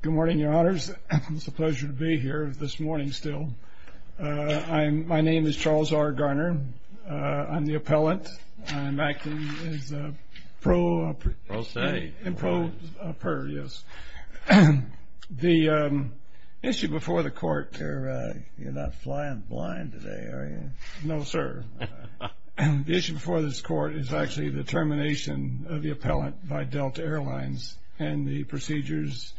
Good morning, Your Honors. It's a pleasure to be here, this morning still. My name is Charles R. Garner. I'm the appellant. I'm acting as a pro... Pro state. Pro per, yes. The issue before the court... You're not flying blind today, are you? No, sir. The issue before this court is actually the termination of the appellant by Delta Airlines and the procedures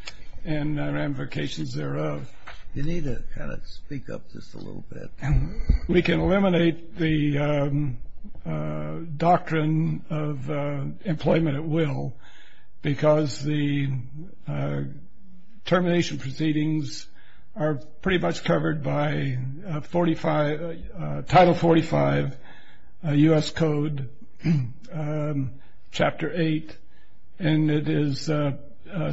and ramifications thereof. You need to kind of speak up just a little bit. We can eliminate the doctrine of employment at will because the termination proceedings are pretty much covered by 45... Title 45 U.S. Code Chapter 8 and it is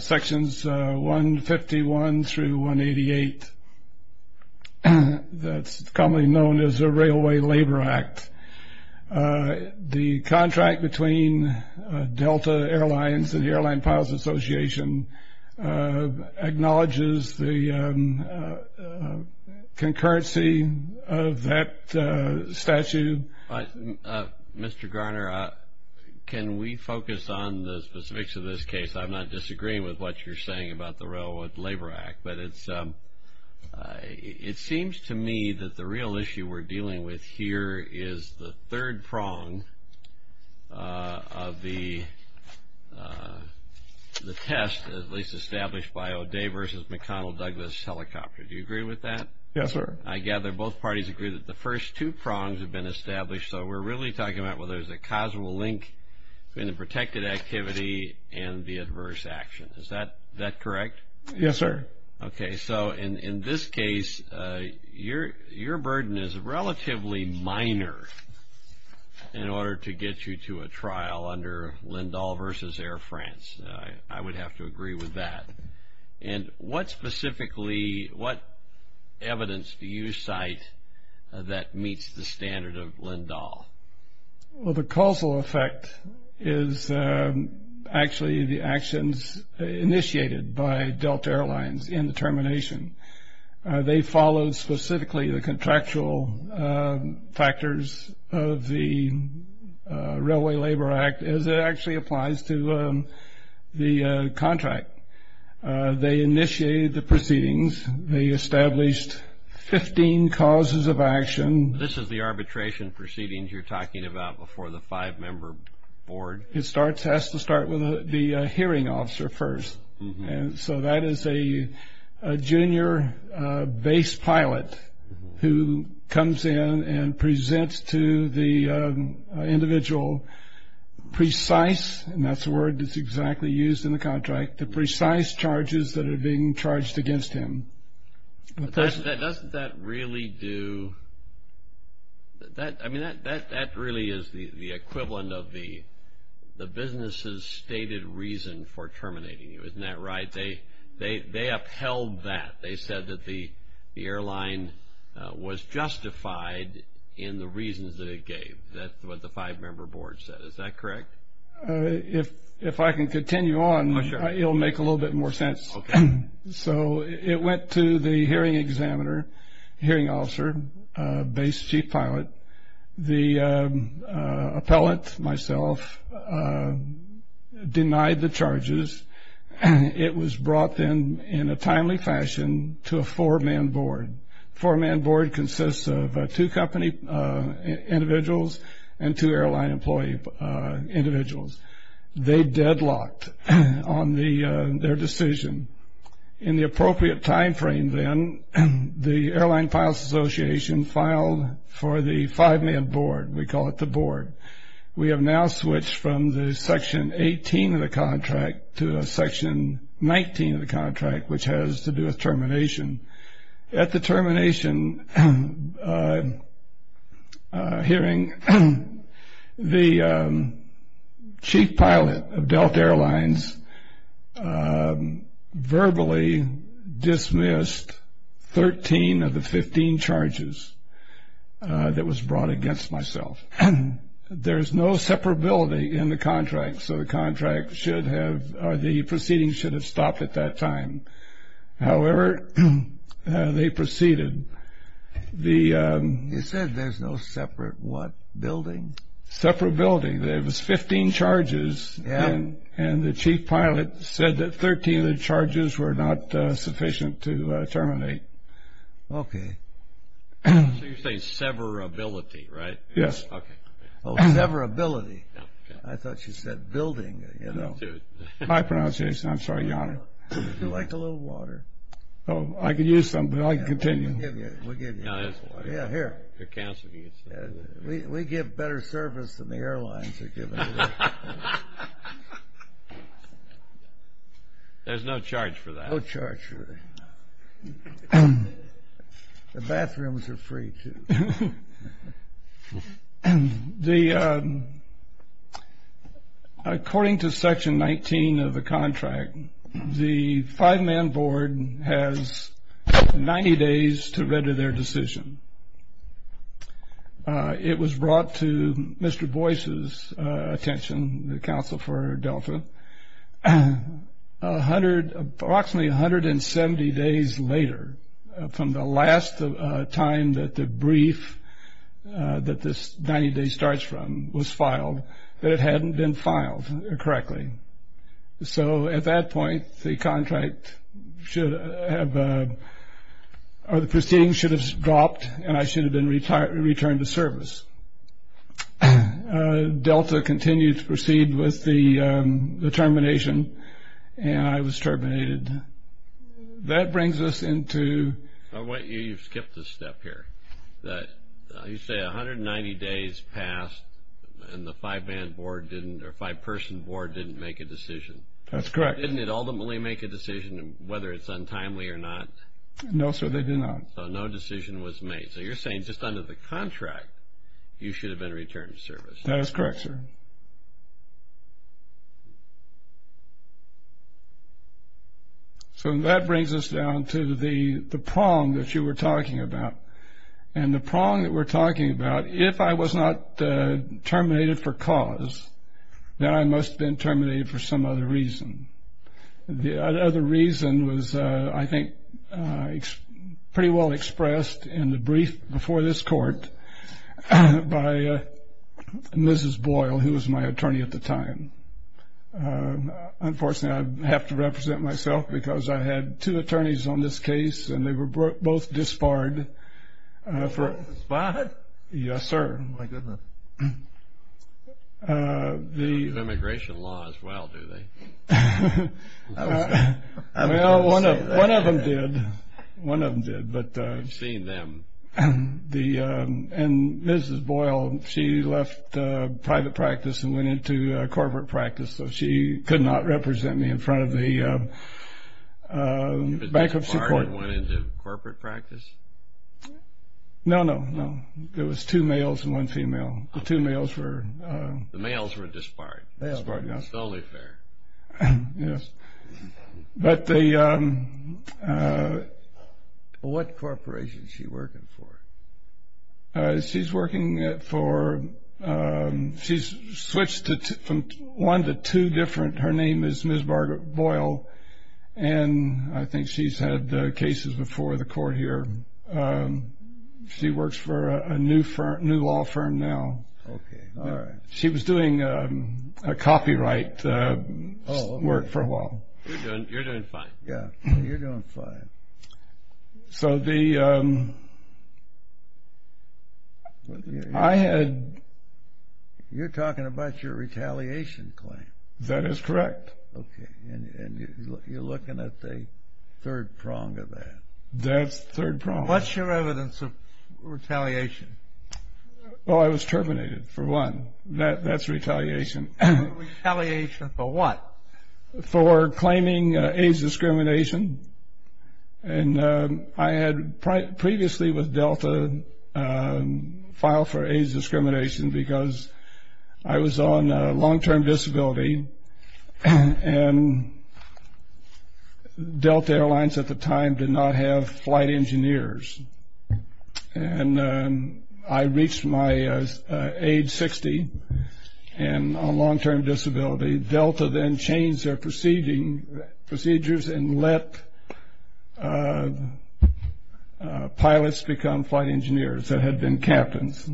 sections 151 through 188. That's commonly known as the Railway Labor Act. The contract between Delta Airlines and the Airline Pilots Association acknowledges the concurrency of that statute. Mr. Garner, can we focus on the specifics of this case? I'm not disagreeing with what you're saying about the Railway Labor Act, but it seems to me that the real issue we're dealing with here is the third prong of the test, at least established by O'Day v. McConnell-Douglas Helicopter. Do you agree with that? Yes, sir. I gather both parties agree that the first two prongs have been established, so we're really talking about whether there's a causal link between the protected activity and the adverse action. Is that correct? Yes, sir. Okay. So in this case, your burden is relatively minor in order to get you to a trial under Lindahl v. Air France. I would have to agree with that. And what specifically, what evidence do you cite that meets the standard of Lindahl? Well, the causal effect is actually the actions initiated by Delta Airlines in the termination. They followed specifically the contractual factors of the Railway Labor Act as it actually applies to the contract. They initiated the proceedings. They established 15 causes of action. This is the arbitration proceedings you're talking about before the five-member board? It has to start with the hearing officer first. So that is a junior base pilot who comes in and presents to the individual precise, and that's the word that's exactly used in the contract, the precise charges that are being charged against him. Doesn't that really do that? I mean, that really is the equivalent of the business's stated reason for terminating you. Isn't that right? They upheld that. They said that the airline was justified in the reasons that it gave. That's what the five-member board said. Is that correct? If I can continue on, it will make a little bit more sense. Okay. So it went to the hearing examiner, hearing officer, base chief pilot. The appellant, myself, denied the charges. It was brought then in a timely fashion to a four-man board. Four-man board consists of two company individuals and two airline employee individuals. They deadlocked on their decision. In the appropriate time frame then, the airline pilots association filed for the five-man board. We call it the board. We have now switched from the section 18 of the contract to section 19 of the contract, which has to do with termination. At the termination hearing, the chief pilot of Delta Airlines verbally dismissed 13 of the 15 charges that was brought against myself. There is no separability in the contract, so the contract should have or the proceedings should have stopped at that time. However, they proceeded. You said there's no separate what? Building? Separability. There was 15 charges, and the chief pilot said that 13 of the charges were not sufficient to terminate. Okay. So you're saying severability, right? Yes. Oh, severability. I thought you said building. My pronunciation. I'm sorry, Your Honor. Would you like a little water? Oh, I could use some, but I can continue. We'll give you. No, there's water. Yeah, here. We give better service than the airlines are giving. There's no charge for that. No charge for that. The bathrooms are free, too. According to Section 19 of the contract, the five-man board has 90 days to render their decision. It was brought to Mr. Boyce's attention, the counsel for Delta, approximately 170 days later, from the last time that the brief that this 90-day starts from was filed, that it hadn't been filed correctly. So at that point, the proceeding should have dropped, and I should have been returned to service. Delta continued to proceed with the termination, and I was terminated. That brings us into. You skipped a step here. You say 190 days passed, and the five-person board didn't make a decision. That's correct. Didn't it ultimately make a decision, whether it's untimely or not? No, sir, they did not. So no decision was made. So you're saying just under the contract, you should have been returned to service. That is correct, sir. So that brings us down to the prong that you were talking about. And the prong that we're talking about, if I was not terminated for cause, then I must have been terminated for some other reason. The other reason was, I think, pretty well expressed in the brief before this court by Mrs. Boyle, who was my attorney at the time. Unfortunately, I have to represent myself because I had two attorneys on this case, and they were both disbarred. Disbarred? Yes, sir. Oh, my goodness. They use immigration law as well, do they? I was going to say that. Well, one of them did. One of them did. I've seen them. And Mrs. Boyle, she left private practice and went into corporate practice, so she could not represent me in front of the bankruptcy court. Was she disbarred and went into corporate practice? No, no, no. There was two males and one female. The two males were disbarred. Disbarred, yes. It's the only fair. Yes. What corporation is she working for? She's working for one to two different. Her name is Ms. Boyle, and I think she's had cases before the court here. She works for a new law firm now. Okay, all right. She was doing copyright work for a while. You're doing fine. Yeah, you're doing fine. So the, I had... You're talking about your retaliation claim. That is correct. Okay, and you're looking at the third prong of that. That's the third prong. What's your evidence of retaliation? Oh, I was terminated for one. That's retaliation. Retaliation for what? For claiming AIDS discrimination, and I had previously with Delta filed for AIDS discrimination because I was on long-term disability, and Delta Airlines at the time did not have flight engineers, and I reached my age 60 on long-term disability. Delta then changed their procedures and let pilots become flight engineers that had been captains.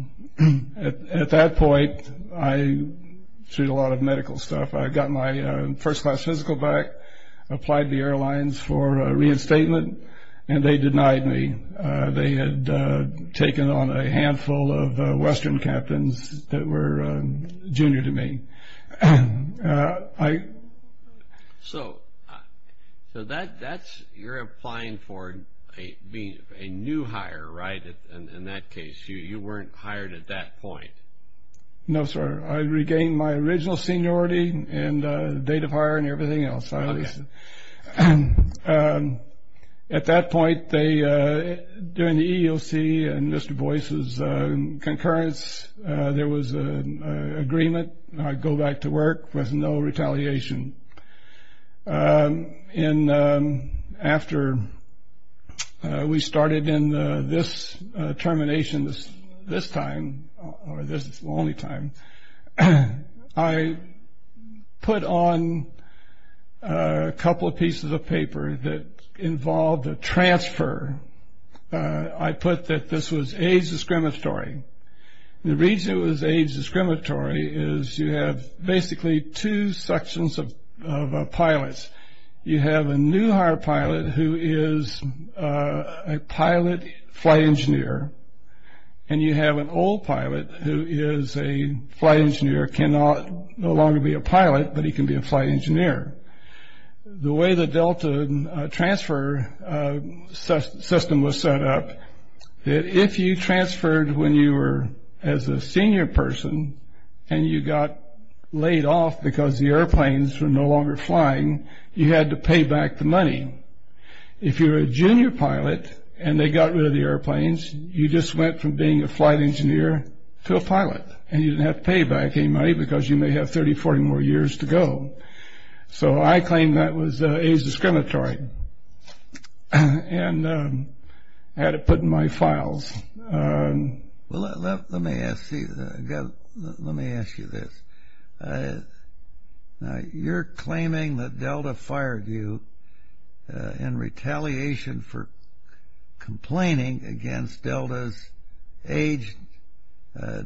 At that point, I sued a lot of medical stuff. I got my first class physical back, applied to the airlines for reinstatement, and they denied me. They had taken on a handful of Western captains that were junior to me. So that's, you're applying for being a new hire, right, in that case. You weren't hired at that point. No, sir. I regained my original seniority and date of hire and everything else. At that point, during the EEOC and Mr. Boyce's concurrence, there was an agreement. I'd go back to work with no retaliation. And after we started in this termination, this time, or this is the only time, I put on a couple of pieces of paper that involved a transfer. I put that this was AIDS discriminatory. The reason it was AIDS discriminatory is you have basically two sections of pilots. You have a new hire pilot who is a pilot flight engineer, and you have an old pilot who is a flight engineer, cannot no longer be a pilot, but he can be a flight engineer. The way the Delta transfer system was set up, if you transferred when you were as a senior person and you got laid off because the airplanes were no longer flying, you had to pay back the money. If you were a junior pilot and they got rid of the airplanes, you just went from being a flight engineer to a pilot, and you didn't have to pay back any money because you may have 30, 40 more years to go. So I claimed that was AIDS discriminatory. I had it put in my files. Let me ask you this. You're claiming that Delta fired you in retaliation for complaining against Delta's AIDS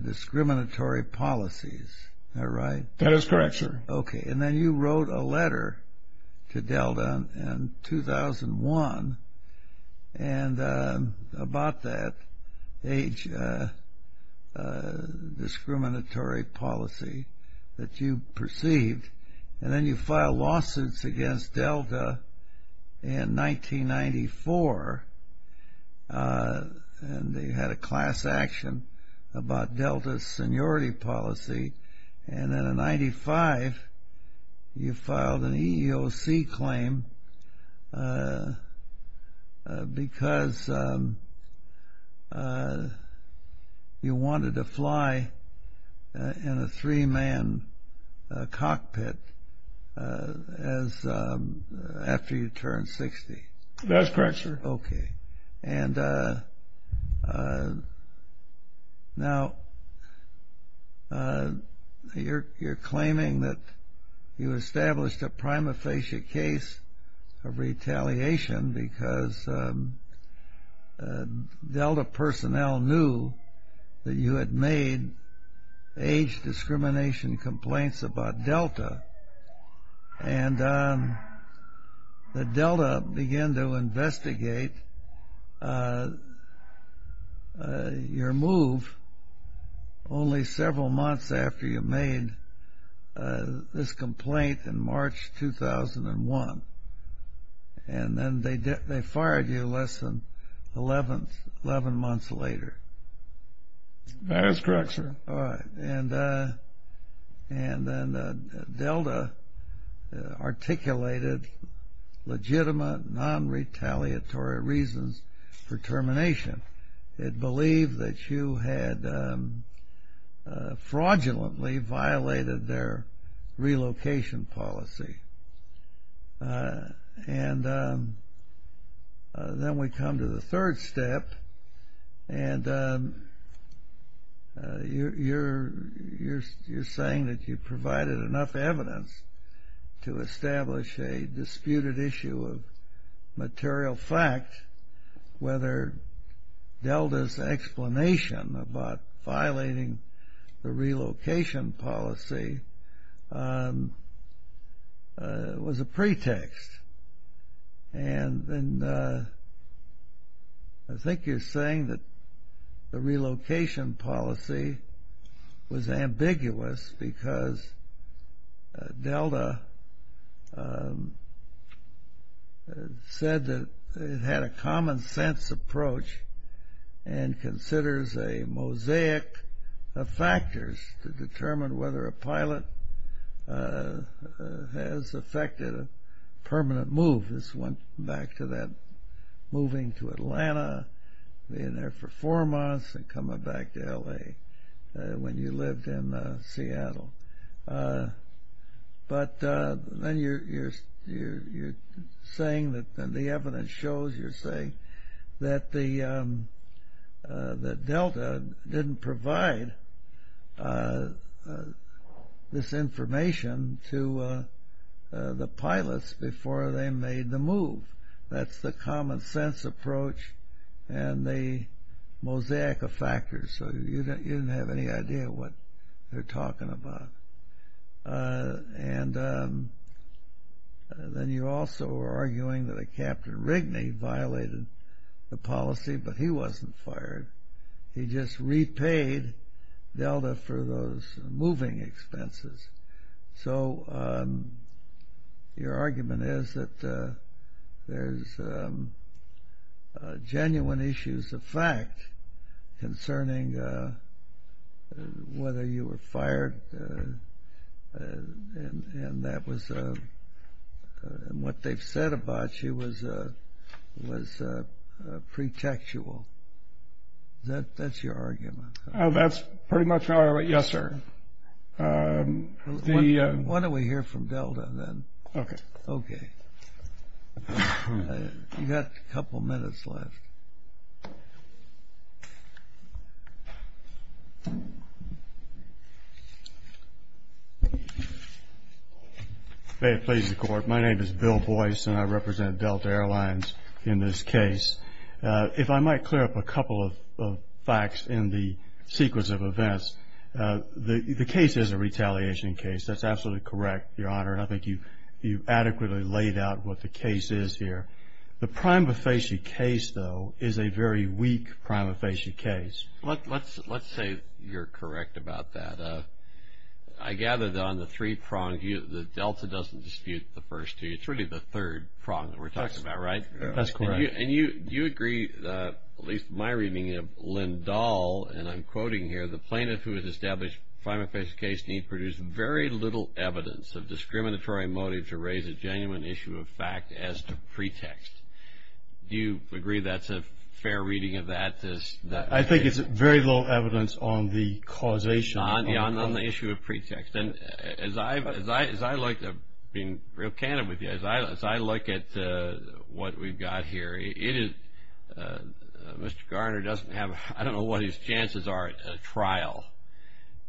discriminatory policies. That is correct, sir. Okay, and then you wrote a letter to Delta in 2001 about that AIDS discriminatory policy that you perceived, and then you filed lawsuits against Delta in 1994, and they had a class action about Delta's seniority policy, and then in 1995, you filed an EEOC claim because you wanted to fly in a three-man cockpit after you turned 60. Okay, and now you're claiming that you established a prima facie case of retaliation because Delta personnel knew that you had made AIDS discrimination complaints about Delta, and that Delta began to investigate your move only several months after you made this complaint in March 2001, and then they fired you less than 11 months later. That is correct, sir. All right, and then Delta articulated legitimate non-retaliatory reasons for termination. It believed that you had fraudulently violated their relocation policy, and then we come to the third step, and you're saying that you provided enough evidence to establish a disputed issue of material fact whether Delta's explanation about violating the relocation policy was a pretext, and I think you're saying that the relocation policy was ambiguous because Delta said that it had a common-sense approach and considers a mosaic of factors to determine whether a pilot has affected a permanent move. This went back to that moving to Atlanta, being there for four months, and coming back to L.A. when you lived in Seattle. But then you're saying that the evidence shows, you're saying, that Delta didn't provide this information to the pilots before they made the move. That's the common-sense approach and the mosaic of factors, so you didn't have any idea what they're talking about. And then you're also arguing that Captain Rigney violated the policy, but he wasn't fired. He just repaid Delta for those moving expenses. So your argument is that there's genuine issues of fact concerning whether you were fired, and what they've said about you was pretextual. That's your argument. That's pretty much my argument, yes, sir. Why don't we hear from Delta, then? Okay. You've got a couple minutes left. May it please the Court, my name is Bill Boyce, and I represent Delta Airlines in this case. If I might clear up a couple of facts in the sequence of events, the case is a retaliation case. That's absolutely correct, Your Honor, and I think you've adequately laid out what the case is here. The prima facie case, though, is a very weak prima facie case. Let's say you're correct about that. I gather that on the three prongs, Delta doesn't dispute the first two. It's really the third prong that we're talking about, right? That's correct. And you agree, at least in my reading of Lynn Dahl, and I'm quoting here, the plaintiff who has established prima facie case need produce very little evidence of discriminatory motive to raise a genuine issue of fact as to pretext. Do you agree that's a fair reading of that? I think it's very little evidence on the causation. On the issue of pretext. As I look, being real candid with you, as I look at what we've got here, Mr. Garner doesn't have, I don't know what his chances are at trial,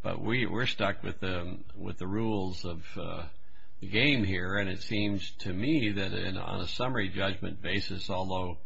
but we're stuck with the rules of the game here, and it seems to me that on a summary judgment basis, although,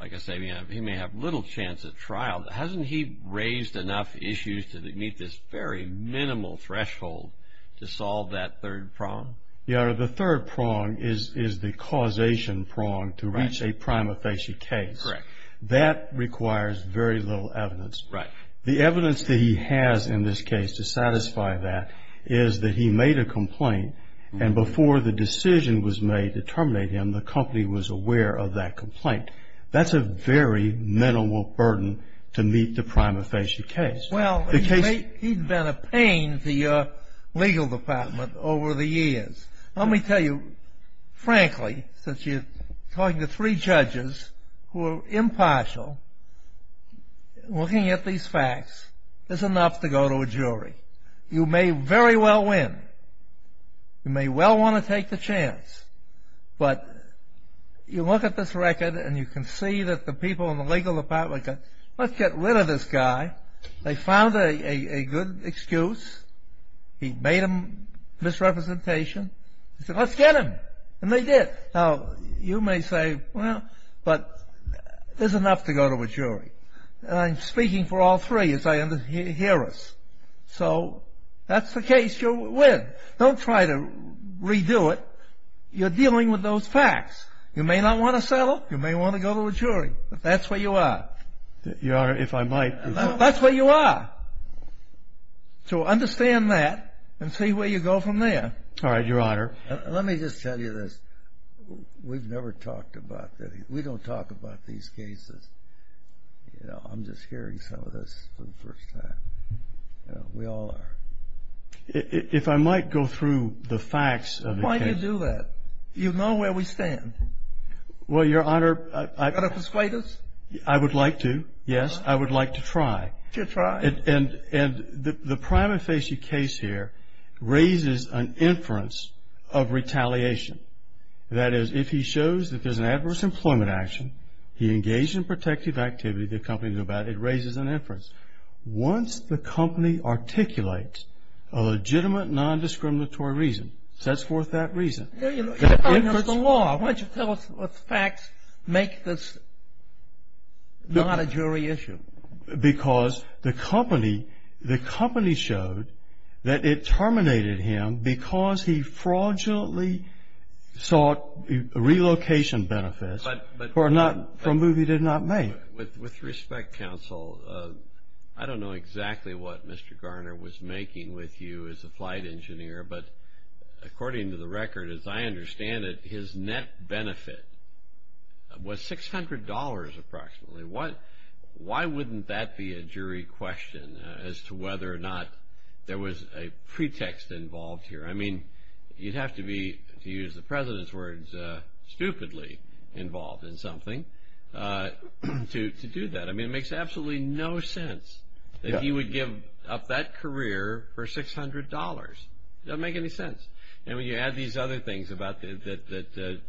like I say, he may have little chance at trial, hasn't he raised enough issues to meet this very minimal threshold to solve that third prong? Yeah, the third prong is the causation prong to reach a prima facie case. Correct. That requires very little evidence. Right. The evidence that he has in this case to satisfy that is that he made a complaint, and before the decision was made to terminate him, the company was aware of that complaint. That's a very minimal burden to meet the prima facie case. Well, he's been a pain to your legal department over the years. Let me tell you, frankly, since you're talking to three judges who are impartial, looking at these facts is enough to go to a jury. You may very well win. You may well want to take the chance. But you look at this record, and you can see that the people in the legal department go, let's get rid of this guy. They found a good excuse. He made a misrepresentation. They said, let's get him, and they did. Now, you may say, well, but there's enough to go to a jury. I'm speaking for all three as I hear us. So that's the case. You'll win. Don't try to redo it. You're dealing with those facts. You may not want to settle. You may want to go to a jury. That's where you are. Your Honor, if I might. That's where you are. So understand that and see where you go from there. All right, Your Honor. Let me just tell you this. We've never talked about this. We don't talk about these cases. I'm just hearing some of this for the first time. We all are. If I might go through the facts of the case. Why do you do that? You know where we stand. Well, Your Honor. Are you going to persuade us? I would like to, yes. I would like to try. To try. And the prima facie case here raises an inference of retaliation. That is, if he shows that there's an adverse employment action, he engaged in protective activity, the company knew about it, it raises an inference. Once the company articulates a legitimate non-discriminatory reason, sets forth that reason. No, Your Honor. The law. Why don't you tell us what facts make this not a jury issue? Because the company showed that it terminated him because he fraudulently sought relocation benefits for a move he did not make. With respect, Counsel, I don't know exactly what Mr. Garner was making with you as a flight engineer, but according to the record, as I understand it, his net benefit was $600 approximately. Why wouldn't that be a jury question as to whether or not there was a pretext involved here? I mean, you'd have to be, to use the President's words, stupidly involved in something. To do that. I mean, it makes absolutely no sense that he would give up that career for $600. It doesn't make any sense. And when you add these other things that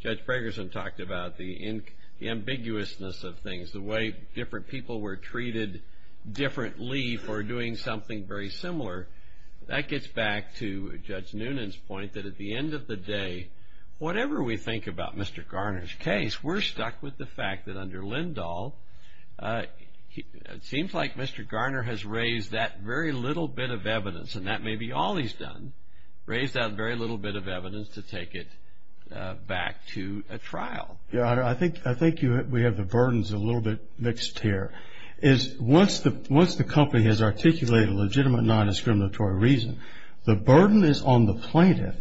Judge Fragerson talked about, the ambiguousness of things, the way different people were treated differently for doing something very similar, that gets back to Judge Noonan's point that at the end of the day, whatever we think about Mr. Garner's case, we're stuck with the fact that under Lindahl, it seems like Mr. Garner has raised that very little bit of evidence, and that may be all he's done, raised that very little bit of evidence to take it back to a trial. I think we have the burdens a little bit mixed here. Once the company has articulated a legitimate non-discriminatory reason, the burden is on the plaintiff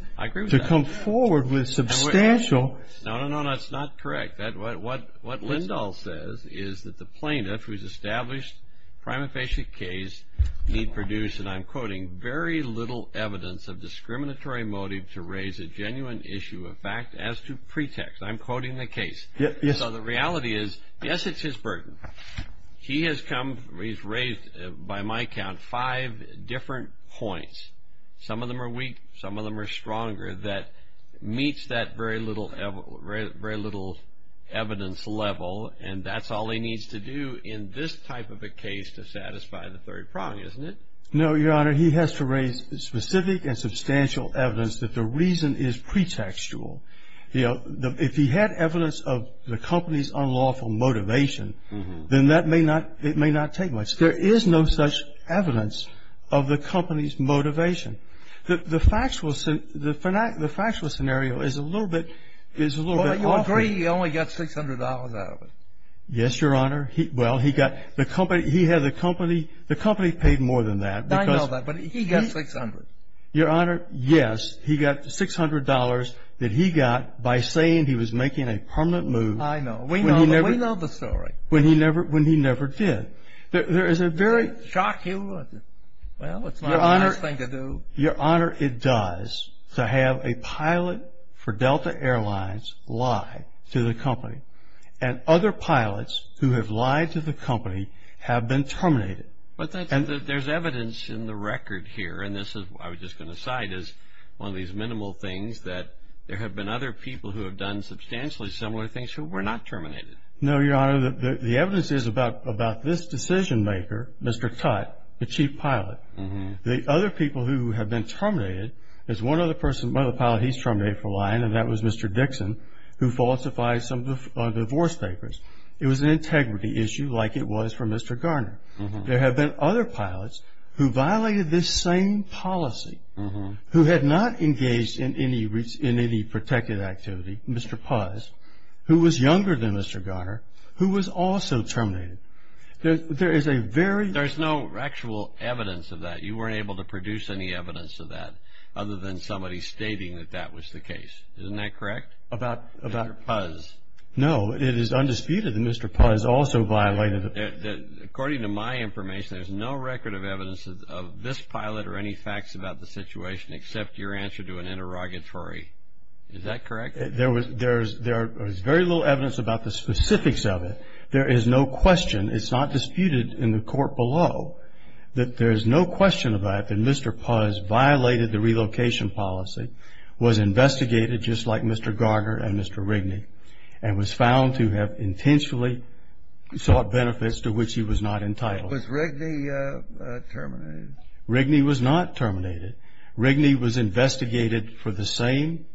to come forward with substantial. No, no, no. That's not correct. What Lindahl says is that the plaintiff, who's established a prima facie case, need produce, and I'm quoting, very little evidence of discriminatory motive to raise a genuine issue of fact as to pretext. I'm quoting the case. So the reality is, yes, it's his burden. He has come, he's raised, by my count, five different points. Some of them are weak. Some of them are stronger that meets that very little evidence level, and that's all he needs to do in this type of a case to satisfy the third prong, isn't it? No, Your Honor. He has to raise specific and substantial evidence that the reason is pretextual. If he had evidence of the company's unlawful motivation, then that may not take much. There is no such evidence of the company's motivation. The factual scenario is a little bit awkward. Well, you'll agree he only got $600 out of it. Yes, Your Honor. Well, he got the company, he had the company, the company paid more than that. I know that, but he got $600. Your Honor, yes, he got the $600 that he got by saying he was making a permanent move. I know. We know the story. When he never did. There is a very – Shock you. Well, it's not a nice thing to do. Your Honor, it does to have a pilot for Delta Airlines lie to the company, and other pilots who have lied to the company have been terminated. But there's evidence in the record here, and this I was just going to cite as one of these minimal things, that there have been other people who have done substantially similar things who were not terminated. No, Your Honor. The evidence is about this decision-maker, Mr. Tutte, the chief pilot. The other people who have been terminated is one other person, one other pilot he's terminated for lying, and that was Mr. Dixon, who falsifies some of the divorce papers. It was an integrity issue like it was for Mr. Garner. There have been other pilots who violated this same policy, who had not engaged in any protected activity, Mr. Puz, who was younger than Mr. Garner, who was also terminated. There is a very – There's no actual evidence of that. You weren't able to produce any evidence of that other than somebody stating that that was the case. Isn't that correct? About – Mr. Puz. No, it is undisputed that Mr. Puz also violated – According to my information, there's no record of evidence of this pilot or any facts about the situation except your answer to an interrogatory. Is that correct? There was very little evidence about the specifics of it. There is no question, it's not disputed in the court below, that there is no question about it that Mr. Puz violated the relocation policy, was investigated just like Mr. Garner and Mr. Rigney, and was found to have intentionally sought benefits to which he was not entitled. Was Rigney terminated? Rigney was not terminated. Rigney was investigated for the same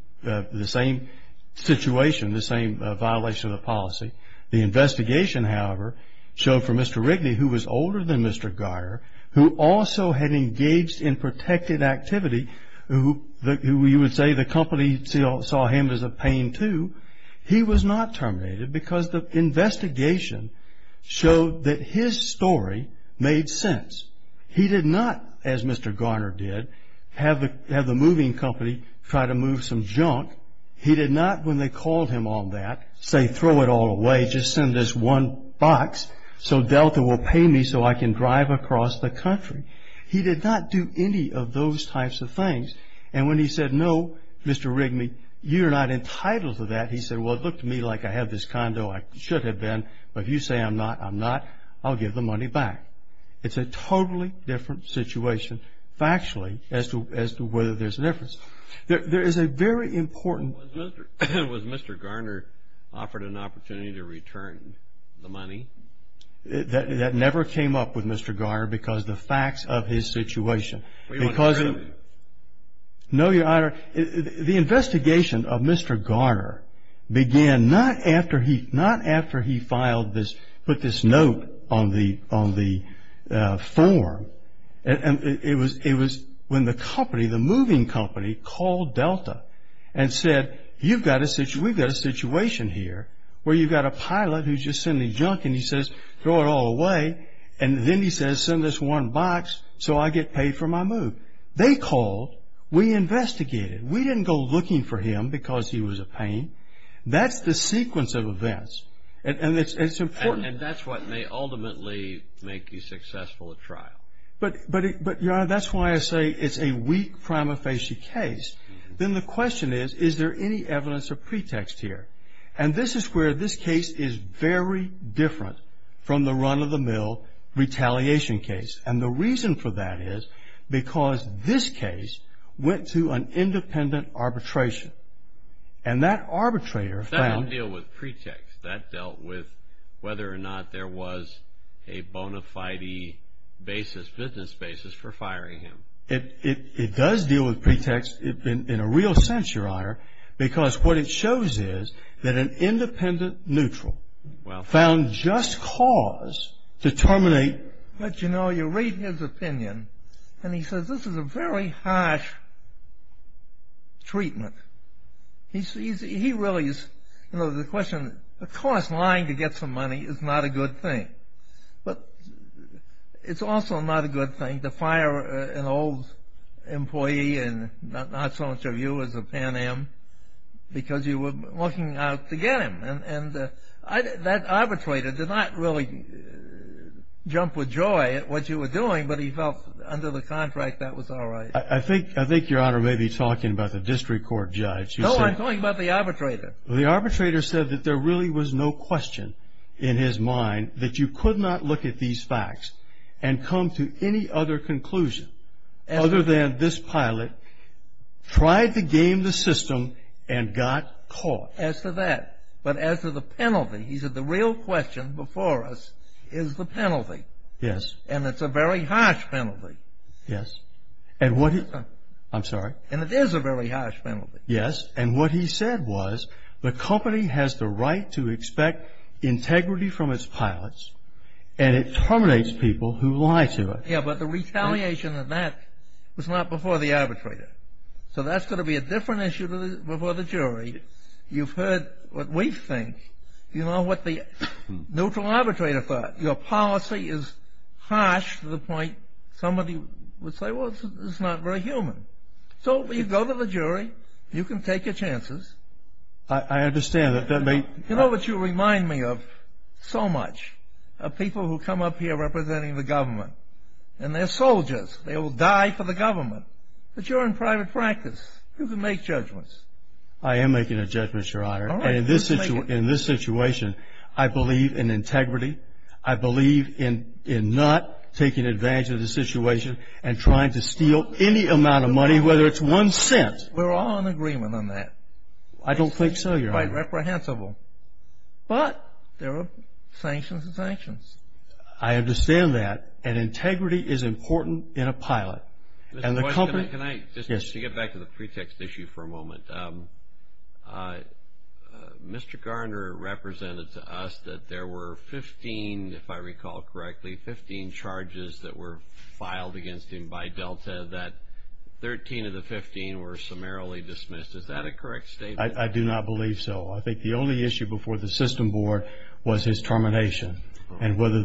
situation, the same violation of the policy. The investigation, however, showed for Mr. Rigney, who was older than Mr. Garner, who also had engaged in protected activity, who you would say the company saw him as a pain too, he was not terminated because the investigation showed that his story made sense. He did not, as Mr. Garner did, have the moving company try to move some junk. He did not, when they called him on that, say, throw it all away, just send this one box so Delta will pay me so I can drive across the country. He did not do any of those types of things. And when he said, no, Mr. Rigney, you are not entitled to that, he said, well, it looked to me like I have this condo, I should have been, but if you say I'm not, I'm not, I'll give the money back. It's a totally different situation factually as to whether there's a difference. There is a very important... Was Mr. Garner offered an opportunity to return the money? That never came up with Mr. Garner because of the facts of his situation. Were you under arrest? No, Your Honor. The investigation of Mr. Garner began not after he filed this, put this note on the form. It was when the company, the moving company, called Delta and said, we've got a situation here where you've got a pilot who's just sending junk, and he says, throw it all away, and then he says, send this one box so I get paid for my move. They called. We investigated. We didn't go looking for him because he was a pain. That's the sequence of events, and it's important. And that's what may ultimately make you successful at trial. But, Your Honor, that's why I say it's a weak prima facie case. Then the question is, is there any evidence of pretext here? And this is where this case is very different from the run-of-the-mill retaliation case, and the reason for that is because this case went to an independent arbitration, and that arbitrator found... That didn't deal with pretext. That dealt with whether or not there was a bona fide basis, business basis for firing him. It does deal with pretext in a real sense, Your Honor, because what it shows is that an independent neutral found just cause to terminate... But, you know, you read his opinion, and he says this is a very harsh treatment. He really is... You know, the question, of course, lying to get some money is not a good thing, but it's also not a good thing to fire an old employee and not so much of you as a pan-am because you were looking out to get him. And that arbitrator did not really jump with joy at what you were doing, but he felt under the contract that was all right. I think Your Honor may be talking about the district court judge. No, I'm talking about the arbitrator. Well, the arbitrator said that there really was no question in his mind that you could not look at these facts and come to any other conclusion other than this pilot tried to game the system and got caught. As to that, but as to the penalty, he said the real question before us is the penalty. Yes. And it's a very harsh penalty. Yes. And what he... I'm sorry. And it is a very harsh penalty. Yes. And what he said was the company has the right to expect integrity from its pilots and it terminates people who lie to it. Yes, but the retaliation of that was not before the arbitrator. So that's going to be a different issue before the jury. You've heard what we think. You know what the neutral arbitrator thought. Your policy is harsh to the point somebody would say, well, it's not very human. So you go to the jury. You can take your chances. I understand. You know what you remind me of so much? Of people who come up here representing the government. And they're soldiers. They will die for the government. But you're in private practice. You can make judgments. I am making a judgment, Your Honor. And in this situation, I believe in integrity. I believe in not taking advantage of the situation and trying to steal any amount of money, whether it's one cent. We're all in agreement on that. I don't think so, Your Honor. It's quite reprehensible. But there are sanctions and sanctions. I understand that. And integrity is important in a pilot. Mr. Boyce, can I just get back to the pretext issue for a moment? Mr. Garner represented to us that there were 15, if I recall correctly, 15 charges that were filed against him by Delta, that 13 of the 15 were summarily dismissed. Is that a correct statement? I do not believe so. I think the only issue before the system board was his termination and whether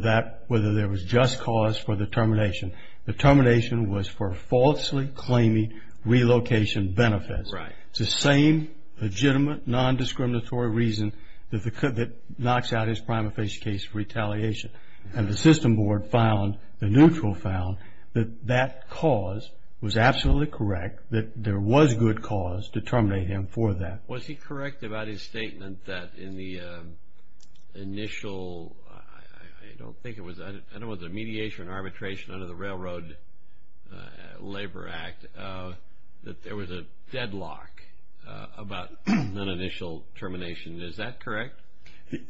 there was just cause for the termination. The termination was for falsely claiming relocation benefits. It's the same legitimate, non-discriminatory reason that knocks out his prima facie case for retaliation. And the system board found, the neutral found, that that cause was absolutely correct, that there was good cause to terminate him for that. Was he correct about his statement that in the initial, I don't think it was, I don't know whether it was mediation or arbitration under the Railroad Labor Act, that there was a deadlock about an initial termination. Is that correct?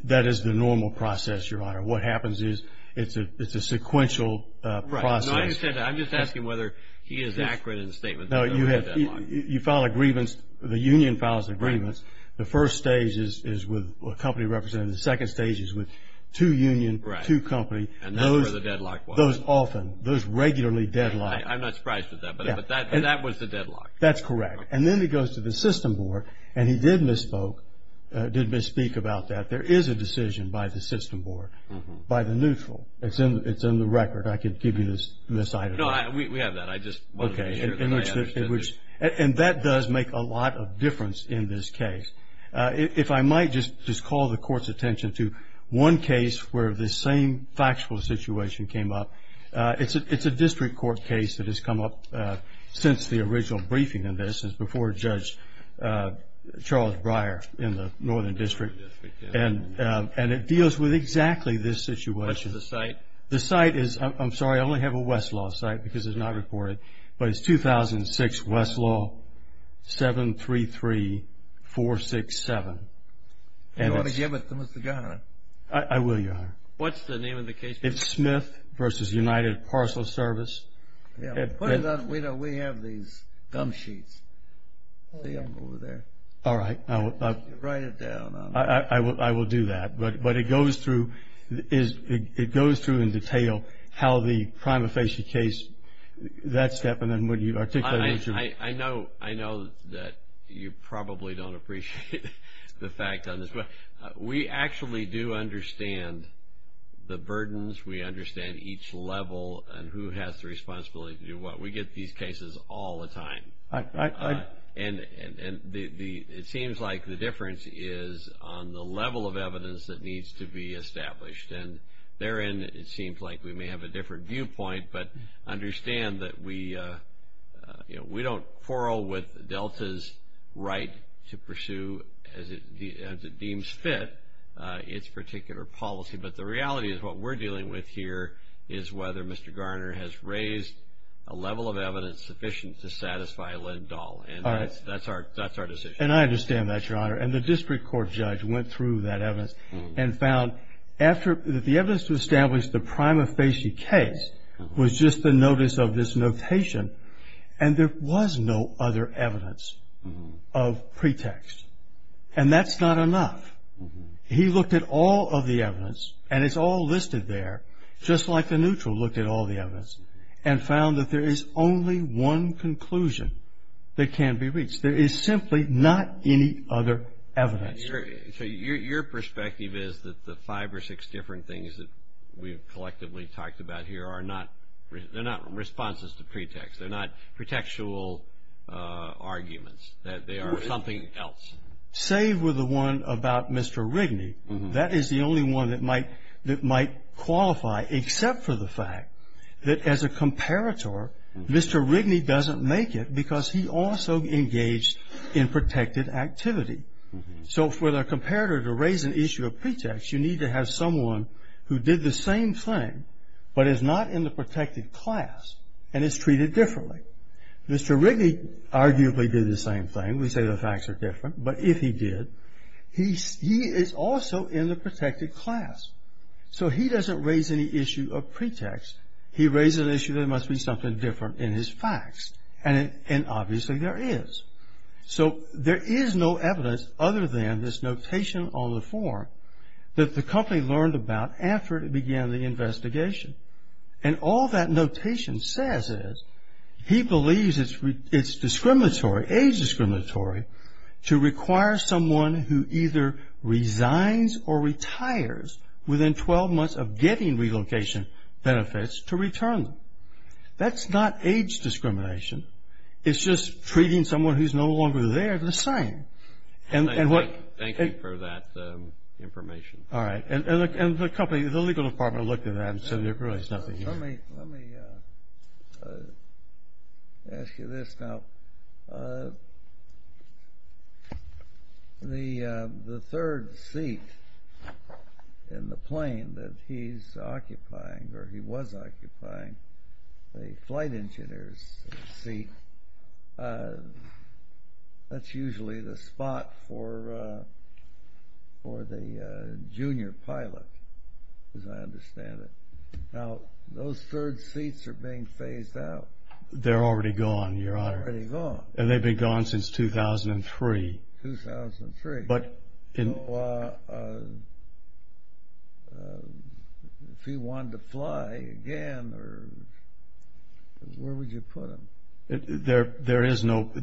That is the normal process, Your Honor. What happens is it's a sequential process. Right. No, I'm just asking whether he is accurate in his statement. No, you file a grievance, the union files a grievance. The first stage is with a company representative. The second stage is with two unions, two companies. And that's where the deadlock was. Those often, those regularly deadlock. I'm not surprised with that, but that was the deadlock. That's correct. And then he goes to the system board and he did misspoke, did misspeak about that. There is a decision by the system board, by the neutral. It's in the record. I could give you this item. No, we have that. I just wanted to make sure that I understood. Okay. And that does make a lot of difference in this case. If I might just call the Court's attention to one case where the same factual situation came up. It's a district court case that has come up since the original briefing in this, before Judge Charles Breyer in the Northern District. And it deals with exactly this situation. What's the site? The site is, I'm sorry, I only have a Westlaw site because it's not reported, but it's 2006 Westlaw 733-467. Do you want to give it to Mr. Garner? I will, Your Honor. What's the name of the case? It's Smith v. United Parcel Service. Put it on. We have these gum sheets. See them over there. All right. Write it down. I will do that. But it goes through in detail how the prima facie case, that step, and then what you articulated. I know that you probably don't appreciate the fact on this. We actually do understand the burdens. We understand each level and who has the responsibility to do what. We get these cases all the time. And it seems like the difference is on the level of evidence that needs to be established. And therein it seems like we may have a different viewpoint, but understand that we don't quarrel with Delta's right to pursue, as it deems fit, its particular policy. But the reality is what we're dealing with here is whether Mr. Garner has raised a level of evidence sufficient to satisfy Lindahl. And that's our decision. And I understand that, Your Honor. And the district court judge went through that evidence and found that the evidence to establish the prima facie case was just the notice of this notation, and there was no other evidence of pretext. And that's not enough. He looked at all of the evidence, and it's all listed there, just like the neutral looked at all the evidence, and found that there is only one conclusion that can be reached. There is simply not any other evidence. So your perspective is that the five or six different things that we've collectively talked about here are not responses to pretext. They're not pretextual arguments. They are something else. Save with the one about Mr. Rigney. That is the only one that might qualify, except for the fact that as a comparator, Mr. Rigney doesn't make it because he also engaged in protected activity. So for the comparator to raise an issue of pretext, you need to have someone who did the same thing, but is not in the protected class and is treated differently. Mr. Rigney arguably did the same thing. We say the facts are different. But if he did, he is also in the protected class. So he doesn't raise any issue of pretext. He raises the issue that there must be something different in his facts. And obviously there is. So there is no evidence other than this notation on the form that the company learned about after it began the investigation. And all that notation says is he believes it's discriminatory, age discriminatory, to require someone who either resigns or retires within 12 months of getting relocation benefits to return them. That's not age discrimination. It's just treating someone who's no longer there the same. Thank you for that information. All right. And the legal department looked at that and said there really is nothing here. Let me ask you this now. The third seat in the plane that he's occupying, or he was occupying, the flight engineer's seat, that's usually the spot for the junior pilot, as I understand it. Now, those third seats are being phased out. They're already gone, Your Honor. Already gone. And they've been gone since 2003. 2003. So if he wanted to fly again, where would you put him? There is no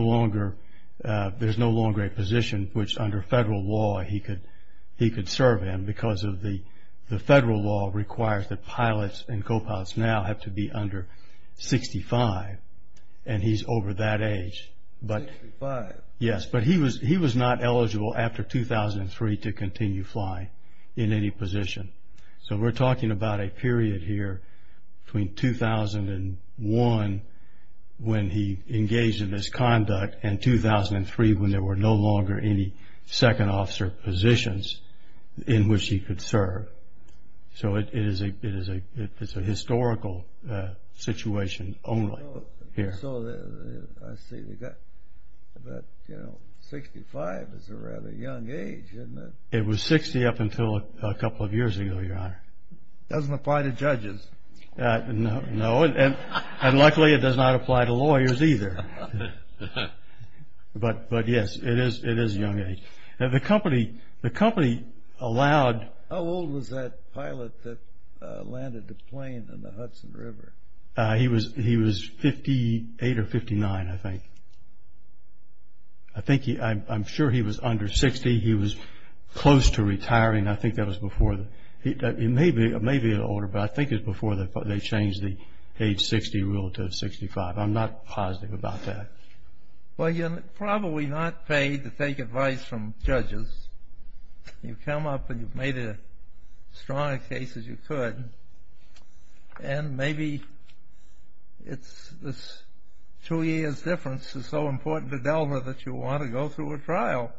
longer a position which under federal law he could serve in because the federal law requires that pilots and co-pilots now have to be under 65, and he's over that age. 65. Yes, but he was not eligible after 2003 to continue flying in any position. So we're talking about a period here between 2001 when he engaged in this conduct and 2003 when there were no longer any second officer positions in which he could serve. So it's a historical situation only here. I see. But, you know, 65 is a rather young age, isn't it? It was 60 up until a couple of years ago, Your Honor. It doesn't apply to judges. No, and luckily it does not apply to lawyers either. But, yes, it is a young age. The company allowed How old was that pilot that landed the plane in the Hudson River? He was 58 or 59, I think. I'm sure he was under 60. He was close to retiring. I think that was before. He may be older, but I think it was before they changed the age 60 rule to 65. I'm not positive about that. Well, you're probably not paid to take advice from judges. You come up and you've made as strong a case as you could, and maybe this two years' difference is so important to Delma that you'll want to go through a trial.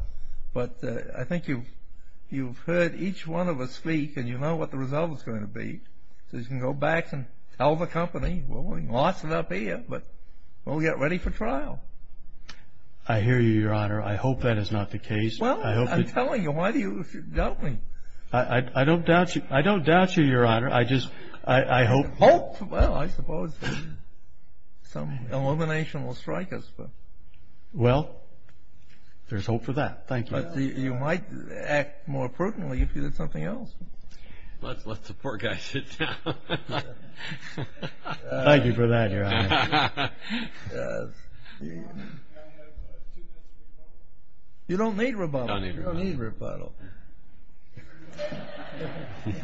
But I think you've heard each one of us speak, and you know what the result is going to be. So you can go back and tell the company, well, we lost it up here, but we'll get ready for trial. I hear you, Your Honor. I hope that is not the case. Well, I'm telling you. Why do you doubt me? I don't doubt you, Your Honor. Hope? Well, I suppose some elimination will strike us. Well, there's hope for that. Thank you. But you might act more pertinently if you did something else. Let the poor guy sit down. Thank you for that, Your Honor. You don't need rebuttal. You don't need rebuttal. Thank you.